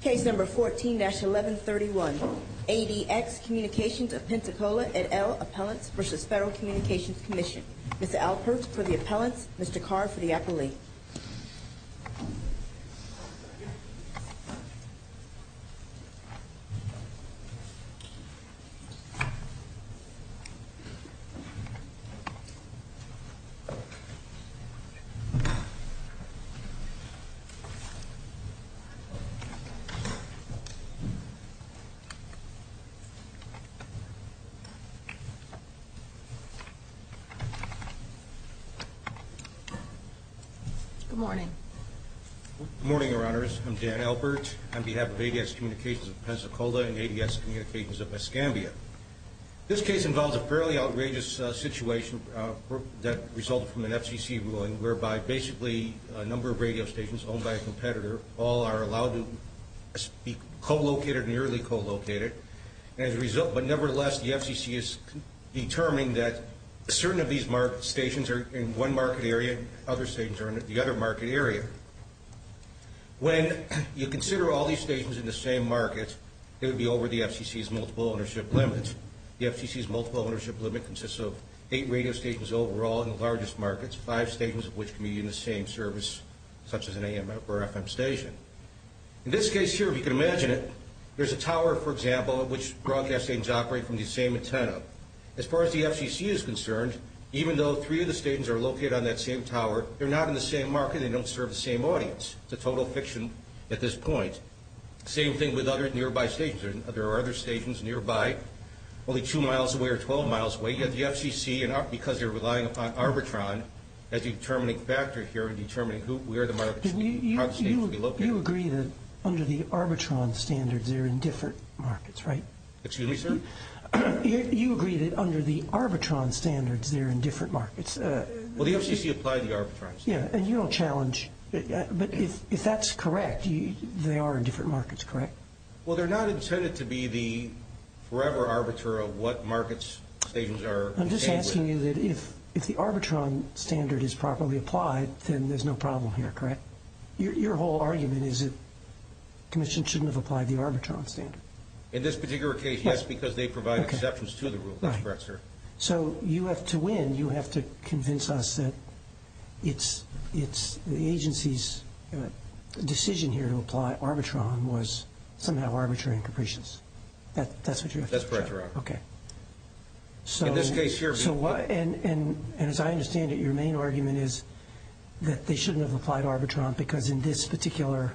Case number 14-1131, ADX Communications of Pensacola et al. Appellants v. Federal Communications Commission. Ms. Alpert for the appellants, Mr. Carr for the appellate. Good morning. Good morning, Your Honors. I'm Dan Alpert on behalf of ADX Communications of Pensacola and ADX Communications of Escambia. This case involves a fairly outrageous situation that resulted from an FCC ruling whereby basically a number of radio stations owned by a competitor all are allowed to be co-located and early co-located. And as a result, but nevertheless, the FCC has determined that certain of these stations are in one market area and other stations are in the other market area. When you consider all these stations in the same market, it would be over the FCC's multiple ownership limit. The FCC's multiple ownership limit consists of eight radio stations overall in the largest markets, five stations of which can be in the same service, such as an AMF or FM station. In this case here, if you can imagine it, there's a tower, for example, in which broadcast stations operate from the same antenna. As far as the FCC is concerned, even though three of the stations are located on that same tower, they're not in the same market and they don't serve the same audience. It's a total fiction at this point. Same thing with other nearby stations. There are other stations nearby, only two miles away or 12 miles away, yet the FCC, because they're relying upon Arbitron, has a determining factor here in determining where the market station will be located. You agree that under the Arbitron standards, they're in different markets, right? Excuse me, sir? You agree that under the Arbitron standards, they're in different markets. Well, the FCC applied the Arbitron standards. Yeah, and you don't challenge. But if that's correct, they are in different markets, correct? Well, they're not intended to be the forever arbiter of what markets stations are. I'm just asking you that if the Arbitron standard is properly applied, then there's no problem here, correct? Your whole argument is that the Commission shouldn't have applied the Arbitron standard. In this particular case, yes, because they provide exceptions to the rule. That's correct, sir. So you have to win. You have to convince us that the agency's decision here to apply Arbitron was somehow arbitrary and capricious. That's what you have to challenge. That's correct, Your Honor. Okay. In this case here. And as I understand it, your main argument is that they shouldn't have applied Arbitron because in this particular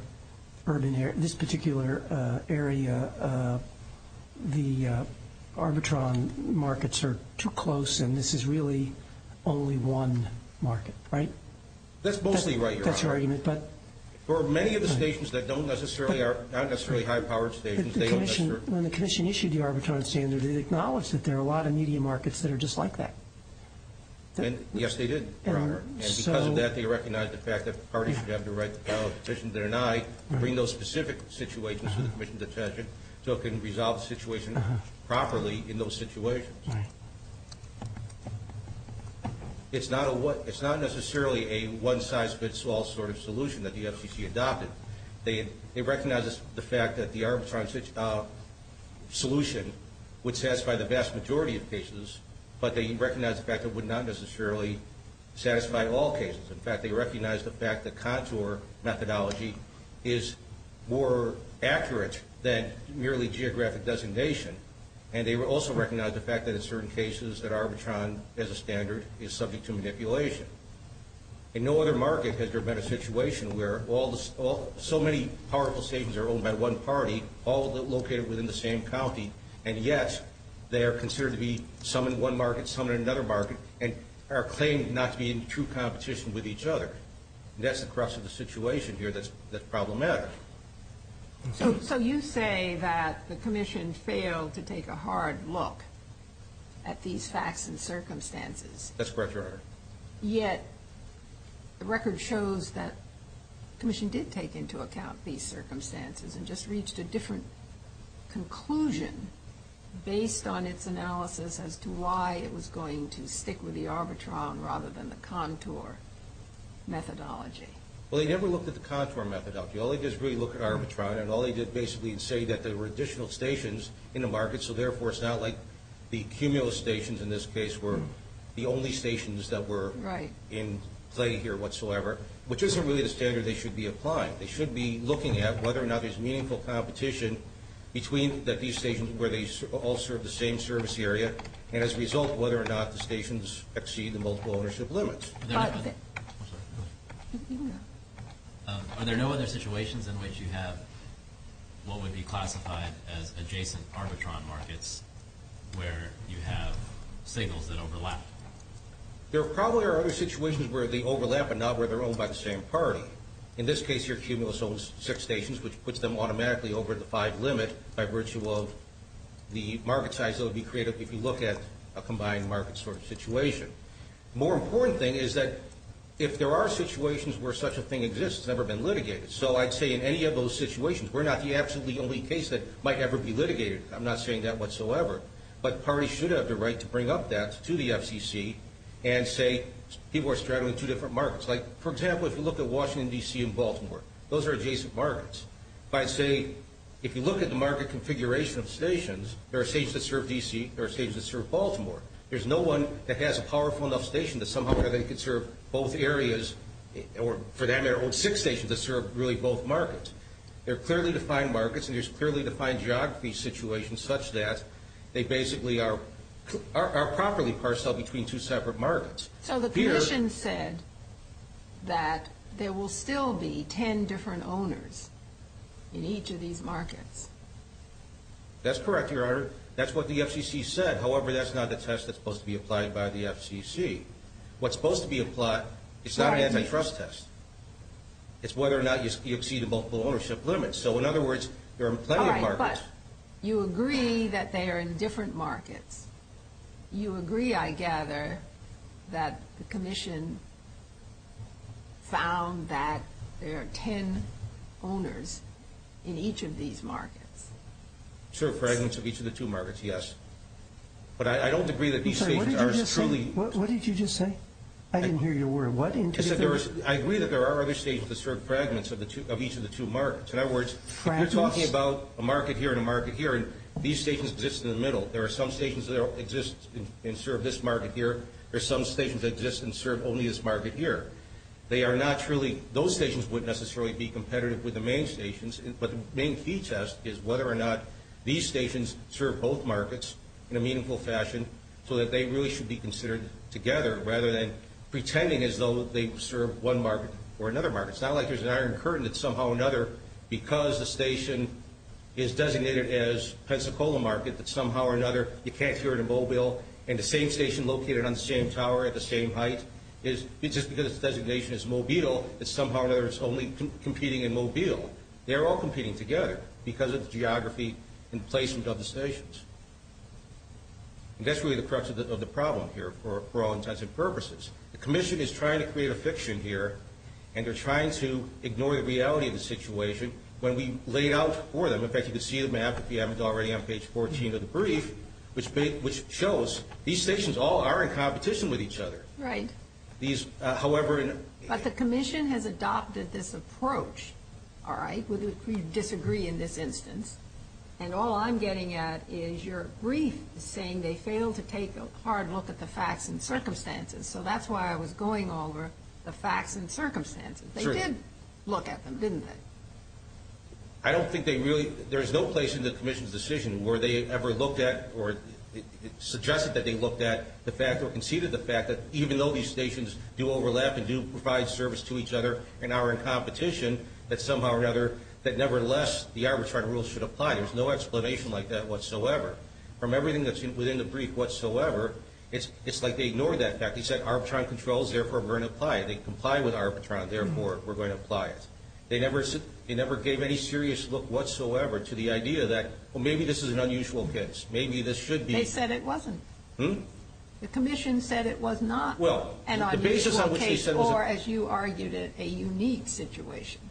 urban area, this particular area, the Arbitron markets are too close, and this is really only one market, right? That's mostly right, Your Honor. That's your argument, but? For many of the stations that don't necessarily are not necessarily high-powered stations, they don't necessarily. When the Commission issued the Arbitron standard, they acknowledged that there are a lot of media markets that are just like that. Yes, they did, Your Honor, and because of that, they recognized the fact that the party should have the right to file a petition to deny, bring those specific situations to the Commission's attention, so it can resolve the situation properly in those situations. Right. It's not necessarily a one-size-fits-all sort of solution that the FCC adopted. They recognized the fact that the Arbitron solution would satisfy the vast majority of cases, but they recognized the fact that it would not necessarily satisfy all cases. In fact, they recognized the fact that contour methodology is more accurate than merely geographic designation, and they also recognized the fact that in certain cases that Arbitron, as a standard, is subject to manipulation. In no other market has there been a situation where so many powerful stations are owned by one party, all located within the same county, and yet they are considered to be some in one market, some in another market, and are claimed not to be in true competition with each other. That's the crux of the situation here that's problematic. So you say that the Commission failed to take a hard look at these facts and circumstances. That's correct, Your Honor. Yet the record shows that the Commission did take into account these circumstances and just reached a different conclusion based on its analysis as to why it was going to stick with the Arbitron rather than the contour methodology. Well, they never looked at the contour methodology. All they did was really look at Arbitron, and all they did basically is say that there were additional stations in the market, so therefore it's not like the cumulus stations in this case were the only stations that were in play here whatsoever, which isn't really the standard they should be applying. They should be looking at whether or not there's meaningful competition between these stations where they all serve the same service area, and as a result, whether or not the stations exceed the multiple ownership limits. I'm sorry. Are there no other situations in which you have what would be classified as adjacent Arbitron markets where you have signals that overlap? There probably are other situations where they overlap but not where they're owned by the same party. In this case, your cumulus owns six stations, which puts them automatically over the five limit by virtue of the market size that would be created if you look at a combined market situation. The more important thing is that if there are situations where such a thing exists, it's never been litigated, so I'd say in any of those situations, we're not the absolutely only case that might ever be litigated. I'm not saying that whatsoever, but parties should have the right to bring up that to the FCC and say people are straddling two different markets. Like, for example, if you look at Washington, D.C., and Baltimore, those are adjacent markets. If I say if you look at the market configuration of stations, there are stations that serve D.C. There are stations that serve Baltimore. There's no one that has a powerful enough station that somehow they can serve both areas or, for that matter, own six stations that serve really both markets. They're clearly defined markets, and there's clearly defined geography situations such that they basically are properly parceled between two separate markets. So the commission said that there will still be 10 different owners in each of these markets. That's correct, Your Honor. However, that's what the FCC said. However, that's not the test that's supposed to be applied by the FCC. What's supposed to be applied is not an antitrust test. It's whether or not you exceed the multiple ownership limit. So, in other words, there are plenty of markets. All right, but you agree that they are in different markets. You agree, I gather, that the commission found that there are 10 owners in each of these markets. Serve fragments of each of the two markets, yes. But I don't agree that these stations are truly. What did you just say? I didn't hear your word. I agree that there are other stations that serve fragments of each of the two markets. In other words, you're talking about a market here and a market here, and these stations exist in the middle. There are some stations that exist and serve this market here. There are some stations that exist and serve only this market here. Those stations wouldn't necessarily be competitive with the main stations, but the main key test is whether or not these stations serve both markets in a meaningful fashion so that they really should be considered together, rather than pretending as though they serve one market or another market. It's not like there's an iron curtain that somehow or another, because the station is designated as Pensacola market, that somehow or another you can't hear it in Mobile, and the same station located on the same tower at the same height, just because its designation is Mobile, that somehow or another it's only competing in Mobile. They're all competing together because of the geography and placement of the stations. And that's really the crux of the problem here for all intents and purposes. The Commission is trying to create a fiction here, and they're trying to ignore the reality of the situation when we laid out for them. In fact, you can see the map, if you haven't already, on page 14 of the brief, which shows these stations all are in competition with each other. Right. But the Commission has adopted this approach, all right? We disagree in this instance. And all I'm getting at is your brief saying they failed to take a hard look at the facts and circumstances. So that's why I was going over the facts and circumstances. They did look at them, didn't they? I don't think they really – there's no place in the Commission's decision where they ever looked at or suggested that they looked at the fact or conceded the fact that even though these stations do overlap and do provide service to each other and are in competition, that somehow or another that nevertheless the Arbitron rules should apply. There's no explanation like that whatsoever. From everything that's within the brief whatsoever, it's like they ignored that fact. They said Arbitron controls, therefore we're going to apply it. They complied with Arbitron, therefore we're going to apply it. They never gave any serious look whatsoever to the idea that, well, maybe this is an unusual case. Maybe this should be. They said it wasn't. Hmm? The Commission said it was not an unusual case or, as you argued it, a unique situation.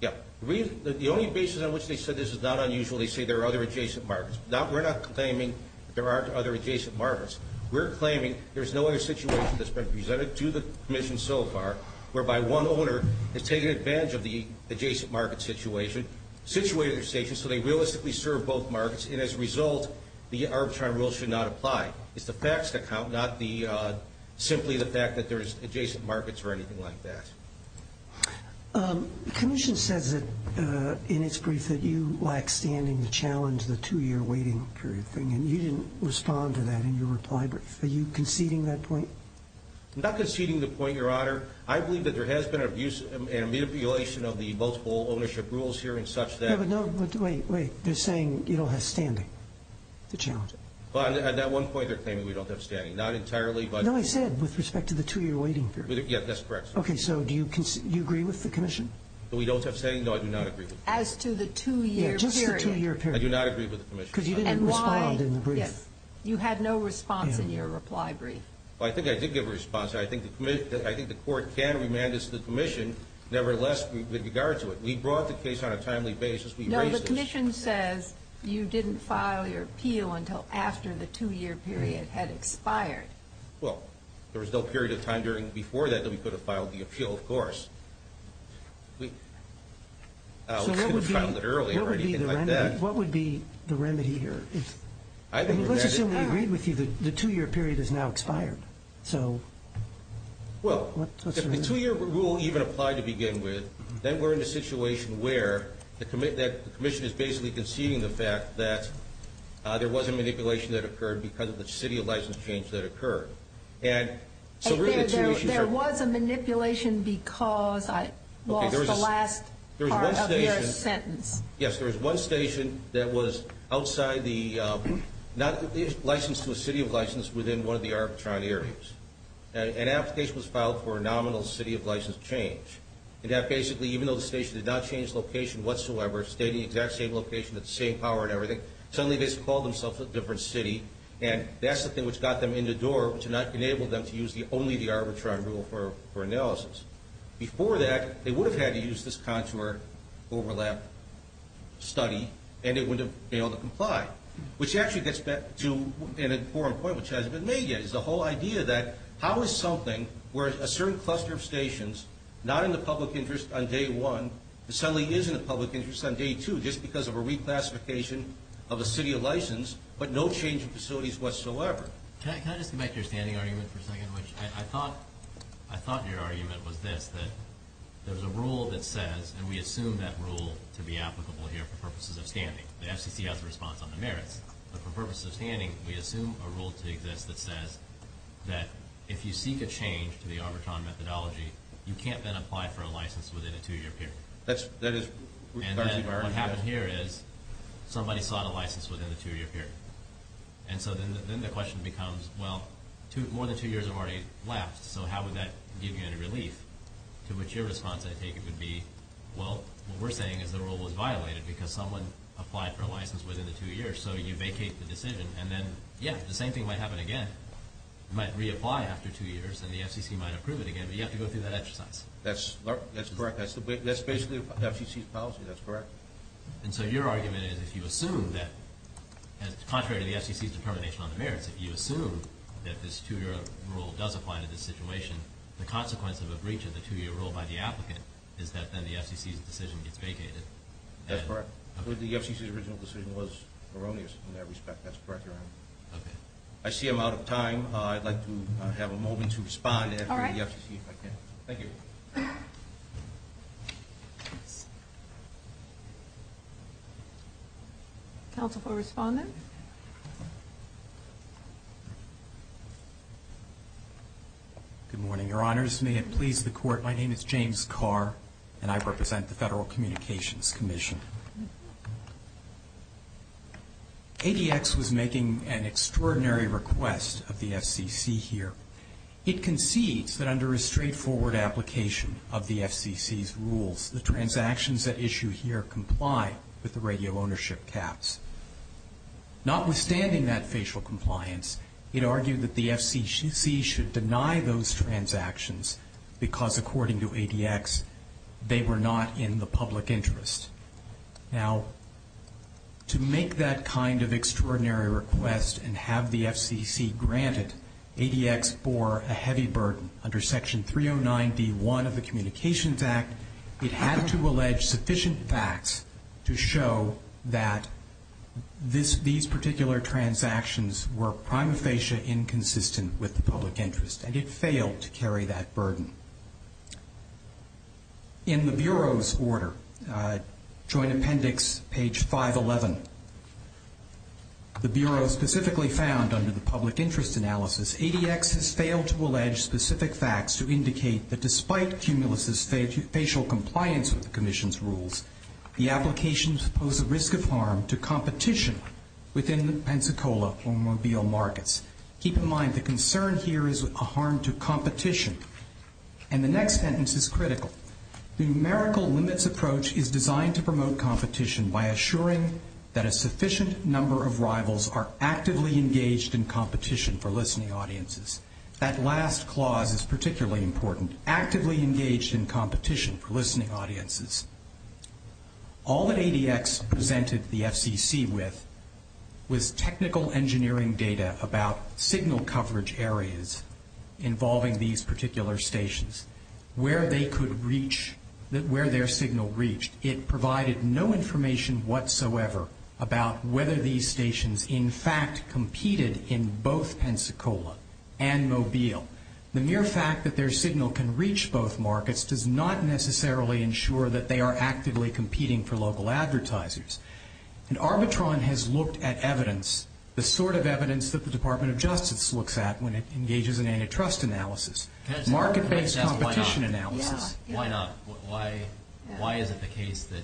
Yeah. The only basis on which they said this is not unusual, they say there are other adjacent markets. We're not claiming there aren't other adjacent markets. We're claiming there's no other situation that's been presented to the Commission so far whereby one owner has taken advantage of the adjacent market situation, situated their station, so they realistically serve both markets, and as a result, the Arbitron rules should not apply. It's the facts that count, not simply the fact that there's adjacent markets or anything like that. The Commission says in its brief that you lack standing to challenge the two-year waiting period thing, and you didn't respond to that in your reply brief. Are you conceding that point? I'm not conceding the point, Your Honor. I believe that there has been an abuse and manipulation of the multiple ownership rules here and such that No, but wait, wait. They're saying you don't have standing to challenge it. At that one point, they're claiming we don't have standing. Not entirely, but No, I said with respect to the two-year waiting period. Yes, that's correct. Okay, so do you agree with the Commission? We don't have standing? No, I do not agree with the Commission. As to the two-year period. Yeah, just the two-year period. I do not agree with the Commission. Because you didn't respond in the brief. Yes. You had no response in your reply brief. Well, I think I did give a response. I think the Court can remand this to the Commission, nevertheless, with regard to it. We brought the case on a timely basis. We raised this. No, the Commission says you didn't file your appeal until after the two-year period had expired. Well, there was no period of time before that that we could have filed the appeal, of course. We could have filed it earlier or anything like that. What would be the remedy here? Let's assume we agreed with you that the two-year period has now expired. Well, if the two-year rule even applied to begin with, then we're in a situation where the Commission is basically conceding the fact that there was a manipulation that occurred because of the city of license change that occurred. There was a manipulation because I lost the last part of your sentence. Yes, there was one station that was licensed to a city of license within one of the Arbitron areas. An application was filed for a nominal city of license change. And that basically, even though the station did not change location whatsoever, stating the exact same location with the same power and everything, suddenly they just called themselves a different city. And that's the thing which got them in the door, which enabled them to use only the Arbitron rule for analysis. Before that, they would have had to use this contour overlap study, and it would have been able to comply, which actually gets back to an important point which hasn't been made yet. It's the whole idea that how is something where a certain cluster of stations, not in the public interest on day one, suddenly is in the public interest on day two just because of a reclassification of a city of license, but no change of facilities whatsoever? Can I just make your standing argument for a second? I thought your argument was this, that there's a rule that says, and we assume that rule to be applicable here for purposes of standing. The FCC has a response on the merits. But for purposes of standing, we assume a rule to exist that says that if you seek a change to the Arbitron methodology, you can't then apply for a license within a two-year period. And then what happened here is somebody sought a license within the two-year period. And so then the question becomes, well, more than two years have already left, so how would that give you any relief, to which your response, I take it, would be, well, what we're saying is the rule was violated because someone applied for a license within the two years, so you vacate the decision. And then, yeah, the same thing might happen again. You might reapply after two years, and the FCC might approve it again, but you have to go through that exercise. That's correct. That's basically the FCC's policy. That's correct. And so your argument is if you assume that, contrary to the FCC's determination on the merits, if you assume that this two-year rule does apply to this situation, the consequence of a breach of the two-year rule by the applicant is that then the FCC's decision gets vacated. That's correct. The FCC's original decision was erroneous in that respect. That's correct, Your Honor. Okay. I see I'm out of time. I'd like to have a moment to respond after the FCC, if I can. Thank you. Counsel for Respondent. Good morning, Your Honors. May it please the Court, my name is James Carr, and I represent the Federal Communications Commission. ADX was making an extraordinary request of the FCC here. It concedes that under a straightforward application of the FCC's rules, the transactions at issue here comply with the radio ownership caps. Notwithstanding that facial compliance, it argued that the FCC should deny those transactions because, according to ADX, they were not in the public interest. Now, to make that kind of extraordinary request and have the FCC grant it, ADX bore a heavy burden. Under Section 309d.1 of the Communications Act, it had to allege sufficient facts to show that these particular transactions were prima facie inconsistent with the public interest, and it failed to carry that burden. In the Bureau's order, Joint Appendix, page 511, the Bureau specifically found under the public interest analysis, ADX has failed to allege specific facts to indicate that, despite Cumulus's facial compliance with the Commission's rules, the applications pose a risk of harm to competition within the Pensacola automobile markets. Keep in mind, the concern here is a harm to competition. And the next sentence is critical. The numerical limits approach is designed to promote competition by assuring that a sufficient number of rivals are actively engaged in competition for listening audiences. That last clause is particularly important, actively engaged in competition for listening audiences. All that ADX presented the FCC with was technical engineering data about signal coverage areas involving these particular stations, where they could reach, where their signal reached. It provided no information whatsoever about whether these stations, in fact, competed in both Pensacola and Mobile. The mere fact that their signal can reach both markets does not necessarily ensure that they are actively competing for local advertisers. And Arbitron has looked at evidence, the sort of evidence that the Department of Justice looks at when it engages in antitrust analysis, market-based competition analysis. Why not? Why is it the case that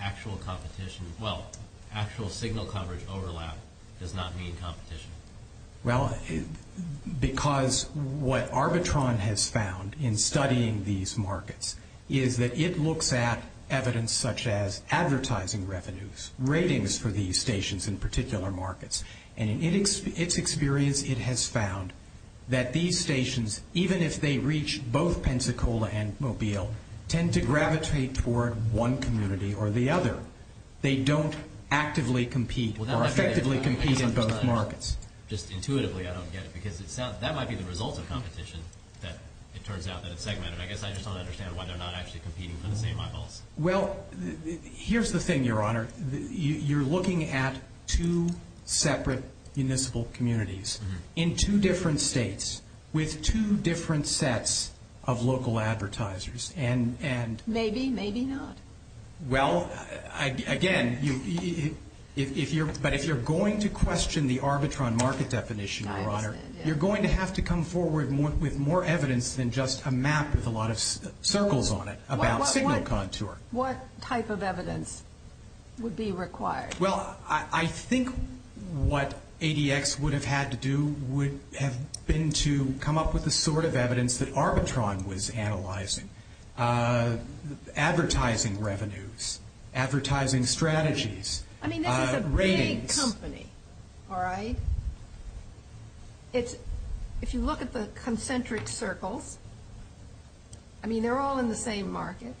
actual competition, well, actual signal coverage overlap does not mean competition? Well, because what Arbitron has found in studying these markets is that it looks at evidence such as advertising revenues, ratings for these stations in particular markets. And in its experience, it has found that these stations, even if they reach both Pensacola and Mobile, tend to gravitate toward one community or the other. They don't actively compete or effectively compete in both markets. Just intuitively, I don't get it, because that might be the result of competition that it turns out that it's segmented. I guess I just don't understand why they're not actually competing for the same eyeballs. Well, here's the thing, Your Honor. You're looking at two separate municipal communities in two different states with two different sets of local advertisers. Maybe, maybe not. Well, again, but if you're going to question the Arbitron market definition, Your Honor, you're going to have to come forward with more evidence than just a map with a lot of circles on it about signal contour. What type of evidence would be required? Well, I think what ADX would have had to do would have been to come up with the sort of evidence that Arbitron was analyzing, advertising revenues, advertising strategies, ratings. I mean, this is a big company, all right? If you look at the concentric circles, I mean, they're all in the same market.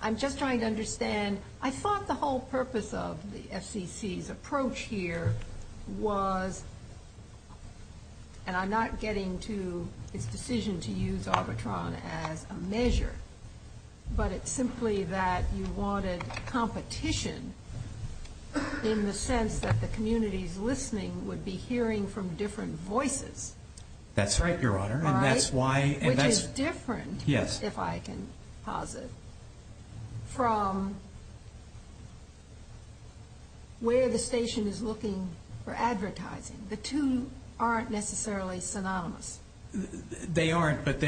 I'm just trying to understand. I thought the whole purpose of the FCC's approach here was, and I'm not getting to its decision to use Arbitron as a measure, but it's simply that you wanted competition in the sense that the communities listening would be hearing from different voices. That's right, Your Honor, and that's why. Which is different, if I can posit, from where the station is looking for advertising. The two aren't necessarily synonymous. They aren't, but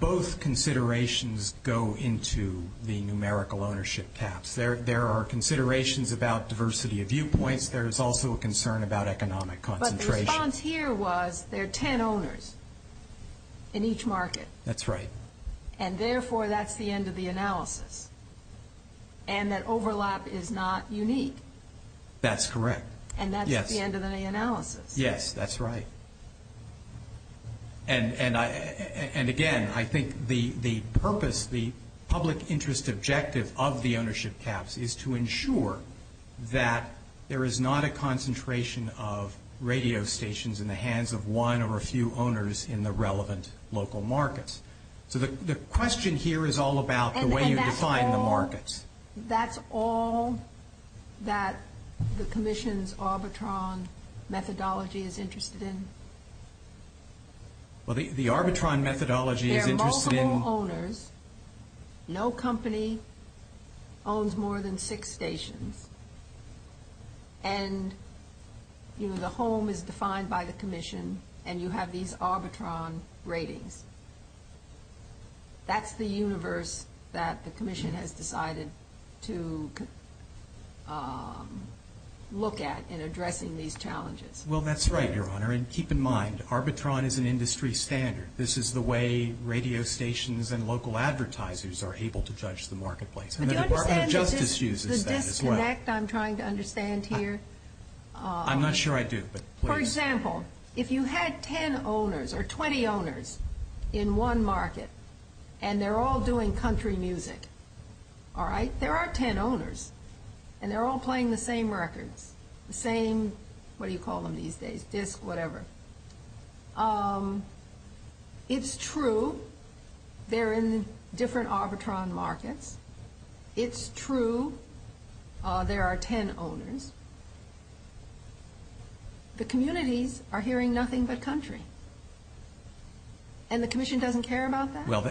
both considerations go into the numerical ownership caps. There are considerations about diversity of viewpoints. There is also a concern about economic concentration. The response here was there are ten owners in each market. That's right. And therefore, that's the end of the analysis, and that overlap is not unique. That's correct. And that's the end of the analysis. Yes, that's right. And again, I think the purpose, the public interest objective of the ownership caps is to ensure that there is not a concentration of radio stations in the hands of one or a few owners in the relevant local markets. So the question here is all about the way you define the markets. And that's all that the Commission's Arbitron methodology is interested in? Well, the Arbitron methodology is interested in – owns more than six stations, and the home is defined by the Commission, and you have these Arbitron ratings. That's the universe that the Commission has decided to look at in addressing these challenges. Well, that's right, Your Honor. And keep in mind, Arbitron is an industry standard. This is the way radio stations and local advertisers are able to judge the marketplace, and the Department of Justice uses that as well. Do you understand the disconnect I'm trying to understand here? I'm not sure I do, but please. For example, if you had 10 owners or 20 owners in one market, and they're all doing country music, all right? There are 10 owners, and they're all playing the same records, the same – it's true they're in different Arbitron markets. It's true there are 10 owners. The communities are hearing nothing but country, and the Commission doesn't care about that? Well,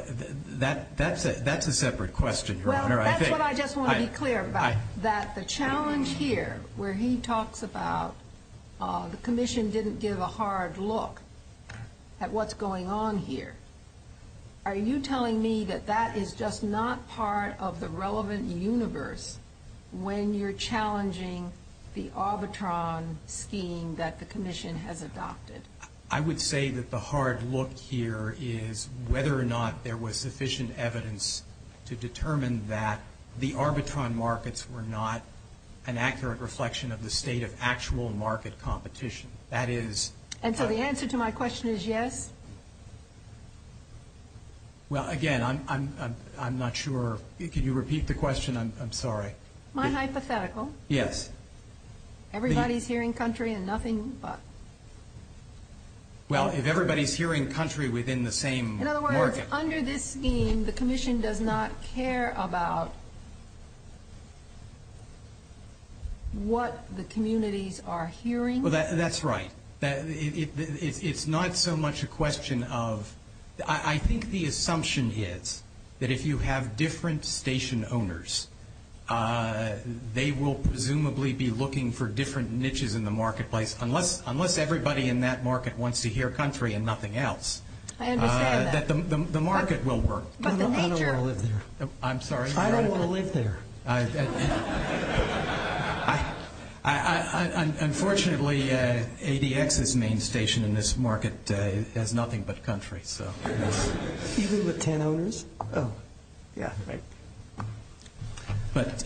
that's a separate question, Your Honor. Well, that's what I just want to be clear about, that the challenge here, where he talks about the Commission didn't give a hard look at what's going on here. Are you telling me that that is just not part of the relevant universe when you're challenging the Arbitron scheme that the Commission has adopted? I would say that the hard look here is whether or not there was sufficient evidence to determine that the Arbitron markets were not an accurate reflection of the state of actual market competition. That is – And so the answer to my question is yes? Well, again, I'm not sure – can you repeat the question? I'm sorry. Am I hypothetical? Yes. Everybody's hearing country and nothing but – Well, if everybody's hearing country within the same market – The Commission does not care about what the communities are hearing? Well, that's right. It's not so much a question of – I think the assumption is that if you have different station owners, they will presumably be looking for different niches in the marketplace, unless everybody in that market wants to hear country and nothing else. I understand that. The market will work. But the major – I don't want to live there. I'm sorry? I don't want to live there. Unfortunately, ADX's main station in this market has nothing but country. Even with 10 owners? Oh, yeah. But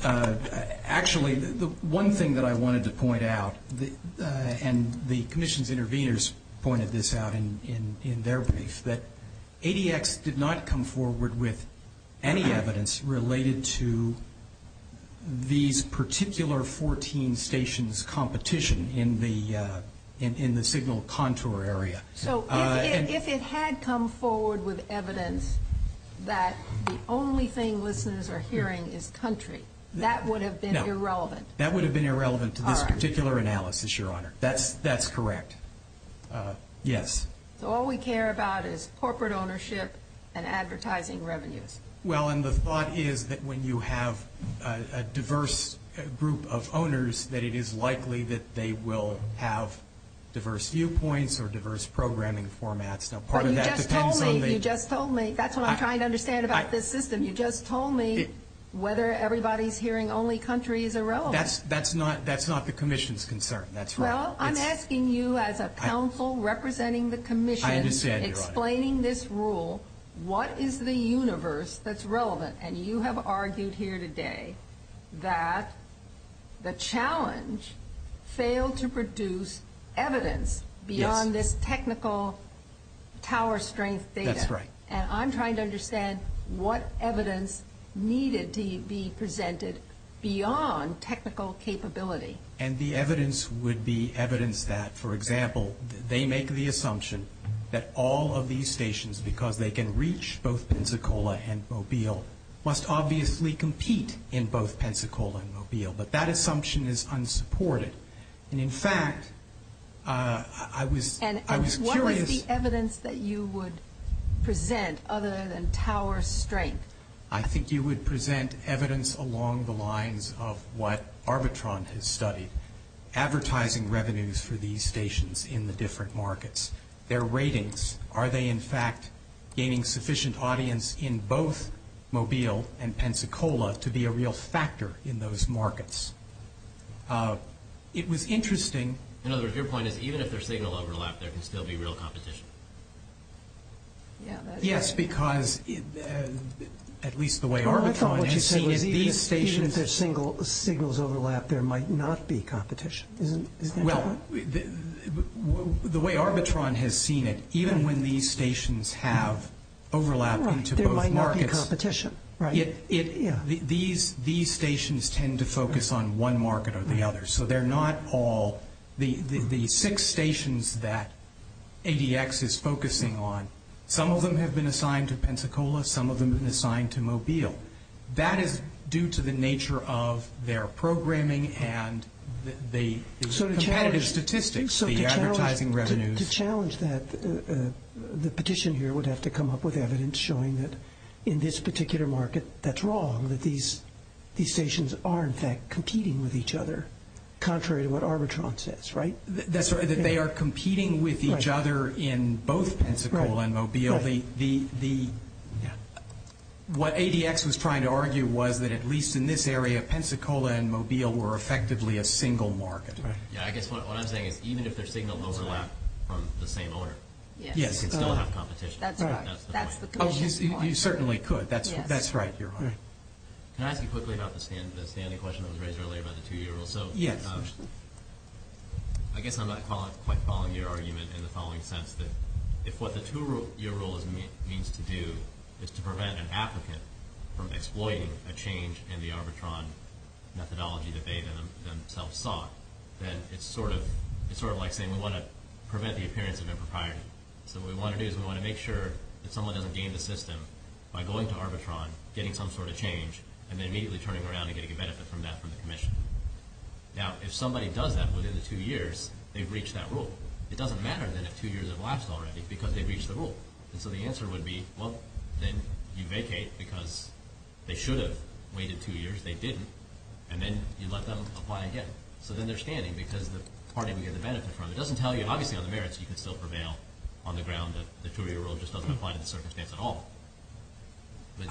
actually, the one thing that I wanted to point out, and the Commission's interveners pointed this out in their brief, is that ADX did not come forward with any evidence related to these particular 14 stations' competition in the signal contour area. So if it had come forward with evidence that the only thing listeners are hearing is country, that would have been irrelevant? No. That would have been irrelevant to this particular analysis, Your Honor. That's correct. Yes. So all we care about is corporate ownership and advertising revenues. Well, and the thought is that when you have a diverse group of owners, that it is likely that they will have diverse viewpoints or diverse programming formats. Now, part of that depends on the – But you just told me. You just told me. That's what I'm trying to understand about this system. You just told me whether everybody's hearing only country is irrelevant. That's not the Commission's concern. That's right. Well, I'm asking you as a counsel representing the Commission, explaining this rule, what is the universe that's relevant? And you have argued here today that the challenge failed to produce evidence beyond this technical tower strength data. That's right. And I'm trying to understand what evidence needed to be presented beyond technical capability. And the evidence would be evidence that, for example, they make the assumption that all of these stations, because they can reach both Pensacola and Mobile, must obviously compete in both Pensacola and Mobile. But that assumption is unsupported. And, in fact, I was curious – And what was the evidence that you would present other than tower strength? I think you would present evidence along the lines of what Arbitron has studied, advertising revenues for these stations in the different markets, their ratings. Are they, in fact, gaining sufficient audience in both Mobile and Pensacola to be a real factor in those markets? It was interesting – In other words, your point is even if their signal overlap, there can still be real competition. Yes, because at least the way Arbitron has seen it, these stations – I thought what you said was even if their signals overlap, there might not be competition. Isn't that correct? Well, the way Arbitron has seen it, even when these stations have overlap into both markets – There might not be competition, right? These stations tend to focus on one market or the other. So they're not all – The six stations that ADX is focusing on, some of them have been assigned to Pensacola, some of them have been assigned to Mobile. That is due to the nature of their programming and the competitive statistics, the advertising revenues. To challenge that, the petition here would have to come up with evidence showing that in this particular market, that's wrong, that these stations are in fact competing with each other, contrary to what Arbitron says, right? That they are competing with each other in both Pensacola and Mobile. What ADX was trying to argue was that at least in this area, Pensacola and Mobile were effectively a single market. Yeah, I guess what I'm saying is even if their signals overlap from the same owner, they still have competition. That's the point. You certainly could. That's right, Your Honor. Can I ask you quickly about the standing question that was raised earlier about the two-year rule? Yes. I guess I'm not quite following your argument in the following sense that if what the two-year rule means to do is to prevent an applicant from exploiting a change in the Arbitron methodology that they themselves sought, then it's sort of like saying we want to prevent the appearance of impropriety. So what we want to do is we want to make sure that someone doesn't game the system by going to Arbitron, getting some sort of change, and then immediately turning around and getting a benefit from that from the Commission. Now, if somebody does that within the two years, they've reached that rule. It doesn't matter then if two years have elapsed already because they've reached the rule. And so the answer would be, well, then you vacate because they should have waited two years. They didn't. And then you let them apply again. So then they're standing because the party we get the benefit from. So it doesn't tell you, obviously, on the merits, you can still prevail on the ground that the two-year rule just doesn't apply to the circumstance at all.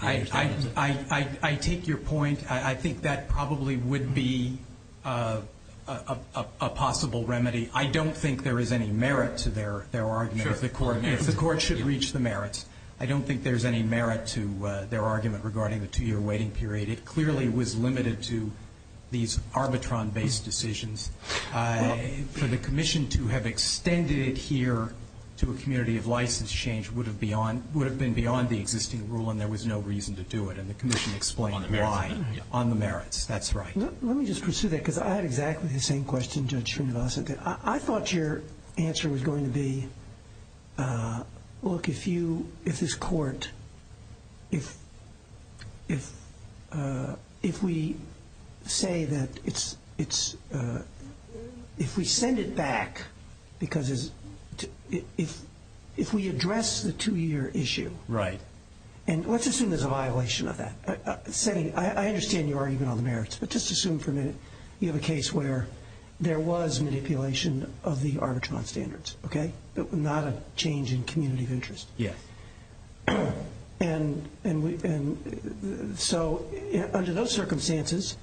I take your point. I think that probably would be a possible remedy. I don't think there is any merit to their argument if the court should reach the merits. I don't think there's any merit to their argument regarding the two-year waiting period. It clearly was limited to these Arbitron-based decisions. For the Commission to have extended it here to a community of license change would have been beyond the existing rule and there was no reason to do it. And the Commission explained why on the merits. That's right. Let me just pursue that because I had exactly the same question, Judge Srinivasan. I thought your answer was going to be, look, if this court, if we say that it's, if we send it back because if we address the two-year issue. Right. And let's assume there's a violation of that. I understand your argument on the merits, but just assume for a minute you have a case where there was manipulation of the Arbitron standards, okay, but not a change in community of interest. Yes. And so under those circumstances,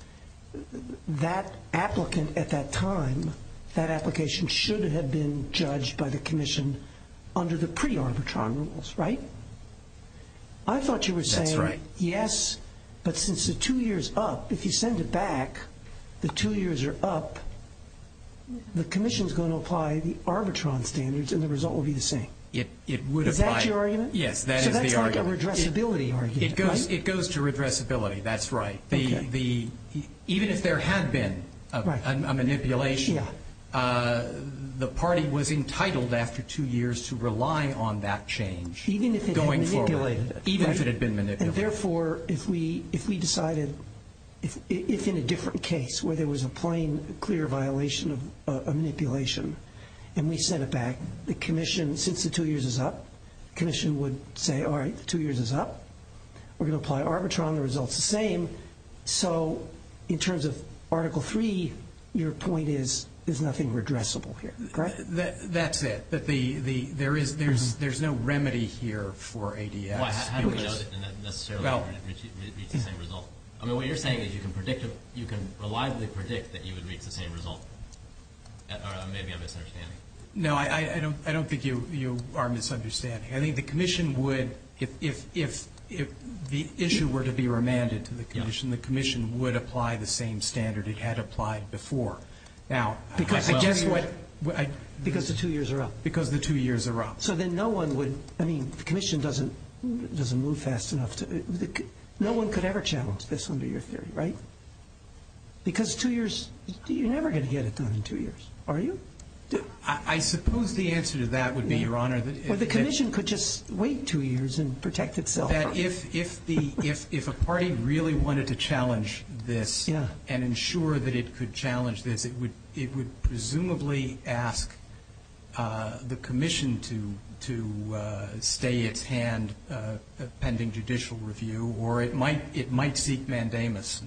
that applicant at that time, that application should have been judged by the Commission under the pre-Arbitron rules, right? I thought you were saying. That's right. Yes, but since the two-year's up, if you send it back, the two-year's are up, the Commission's going to apply the Arbitron standards and the result will be the same. It would apply. Is that your argument? Yes, that is the argument. So that's like a redressability argument, right? It goes to redressability. That's right. Okay. Even if there had been a manipulation, the party was entitled after two years to rely on that change going forward. Even if it had manipulated it. Even if it had been manipulated. And therefore, if we decided, if in a different case where there was a plain, clear violation of manipulation and we sent it back, the Commission, since the two-year's is up, the Commission would say, all right, the two-year's is up, we're going to apply Arbitron, the result's the same. So in terms of Article III, your point is there's nothing redressable here, correct? That's it. There's no remedy here for ADS. Well, I don't know that necessarily it would reach the same result. I mean, what you're saying is you can predict, you can reliably predict that you would reach the same result. Maybe I'm misunderstanding. No, I don't think you are misunderstanding. I think the Commission would, if the issue were to be remanded to the Commission, the Commission would apply the same standard it had applied before. Because the two-year's are up. Because the two-year's are up. So then no one would, I mean, the Commission doesn't move fast enough. No one could ever challenge this under your theory, right? Because two-year's, you're never going to get it done in two-year's, are you? I suppose the answer to that would be, Your Honor, that if the Commission could just wait two-year's and protect itself. If a party really wanted to challenge this and ensure that it could challenge this, it would presumably ask the Commission to stay its hand pending judicial review, or it might seek mandamus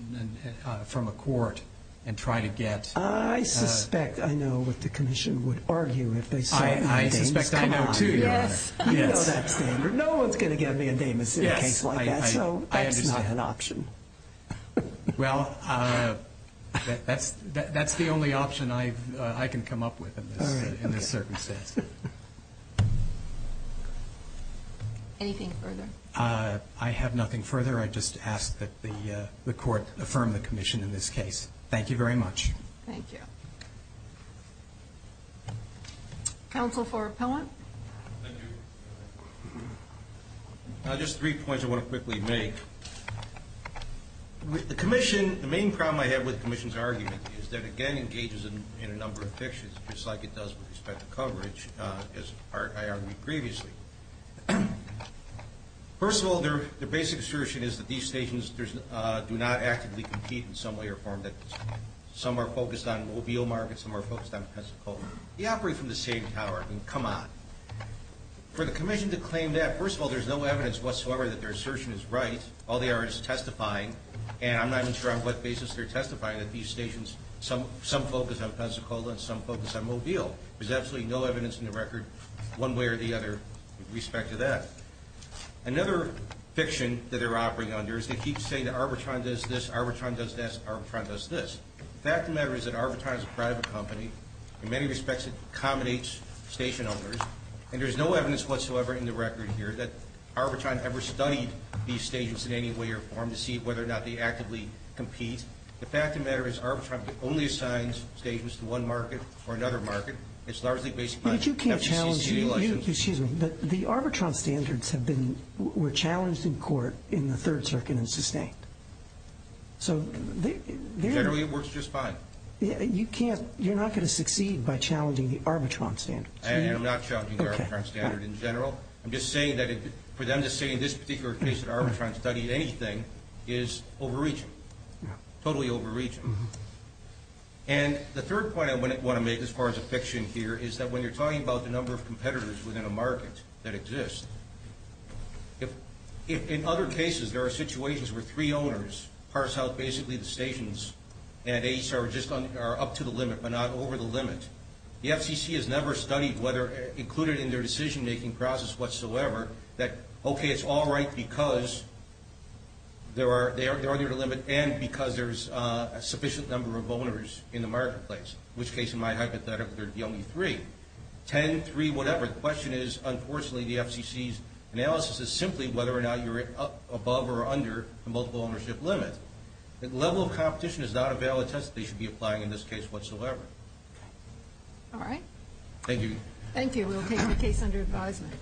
from a court and try to get. I suspect I know what the Commission would argue if they sought mandamus. I know that standard. No one's going to give me a mandamus in a case like that, so that's not an option. Well, that's the only option I can come up with in this circumstance. Anything further? I have nothing further. I just ask that the Court affirm the Commission in this case. Thank you very much. Thank you. Counsel for Appellant? Thank you. Just three points I want to quickly make. The Commission, the main problem I have with the Commission's argument is that, again, engages in a number of fictions, just like it does with respect to coverage, as I argued previously. First of all, their basic assertion is that these stations do not actively compete in some way or form. Some are focused on Mobile Market, some are focused on Pensacola. They operate from the same tower. I mean, come on. For the Commission to claim that, first of all, there's no evidence whatsoever that their assertion is right. All they are is testifying, and I'm not even sure on what basis they're testifying that these stations, some focus on Pensacola and some focus on Mobile. There's absolutely no evidence in the record one way or the other with respect to that. Another fiction that they're operating under is they keep saying that Arbitron does this, Arbitron does this, Arbitron does this. The fact of the matter is that Arbitron is a private company. In many respects, it accommodates station owners. And there's no evidence whatsoever in the record here that Arbitron ever studied these stations in any way or form to see whether or not they actively compete. The fact of the matter is Arbitron only assigns stations to one market or another market. It's largely based on FCC's legal license. Excuse me. The Arbitron standards were challenged in court in the Third Circuit and sustained. So they're- Generally, it works just fine. You're not going to succeed by challenging the Arbitron standards. I am not challenging the Arbitron standard in general. I'm just saying that for them to say in this particular case that Arbitron studied anything is overreaching, totally overreaching. And the third point I want to make, as far as a fiction here, is that when you're talking about the number of competitors within a market that exists, if in other cases there are situations where three owners parse out basically the stations and just are up to the limit but not over the limit, the FCC has never studied whether included in their decision-making process whatsoever that, okay, it's all right because they're under the limit and because there's a sufficient number of owners in the marketplace, in which case, in my hypothetical, there would be only three. Ten, three, whatever. The question is, unfortunately, the FCC's analysis is simply whether or not you're above or under the multiple ownership limit. The level of competition is not a valid test that they should be applying in this case whatsoever. All right. Thank you. Thank you. We will take the case under advisement.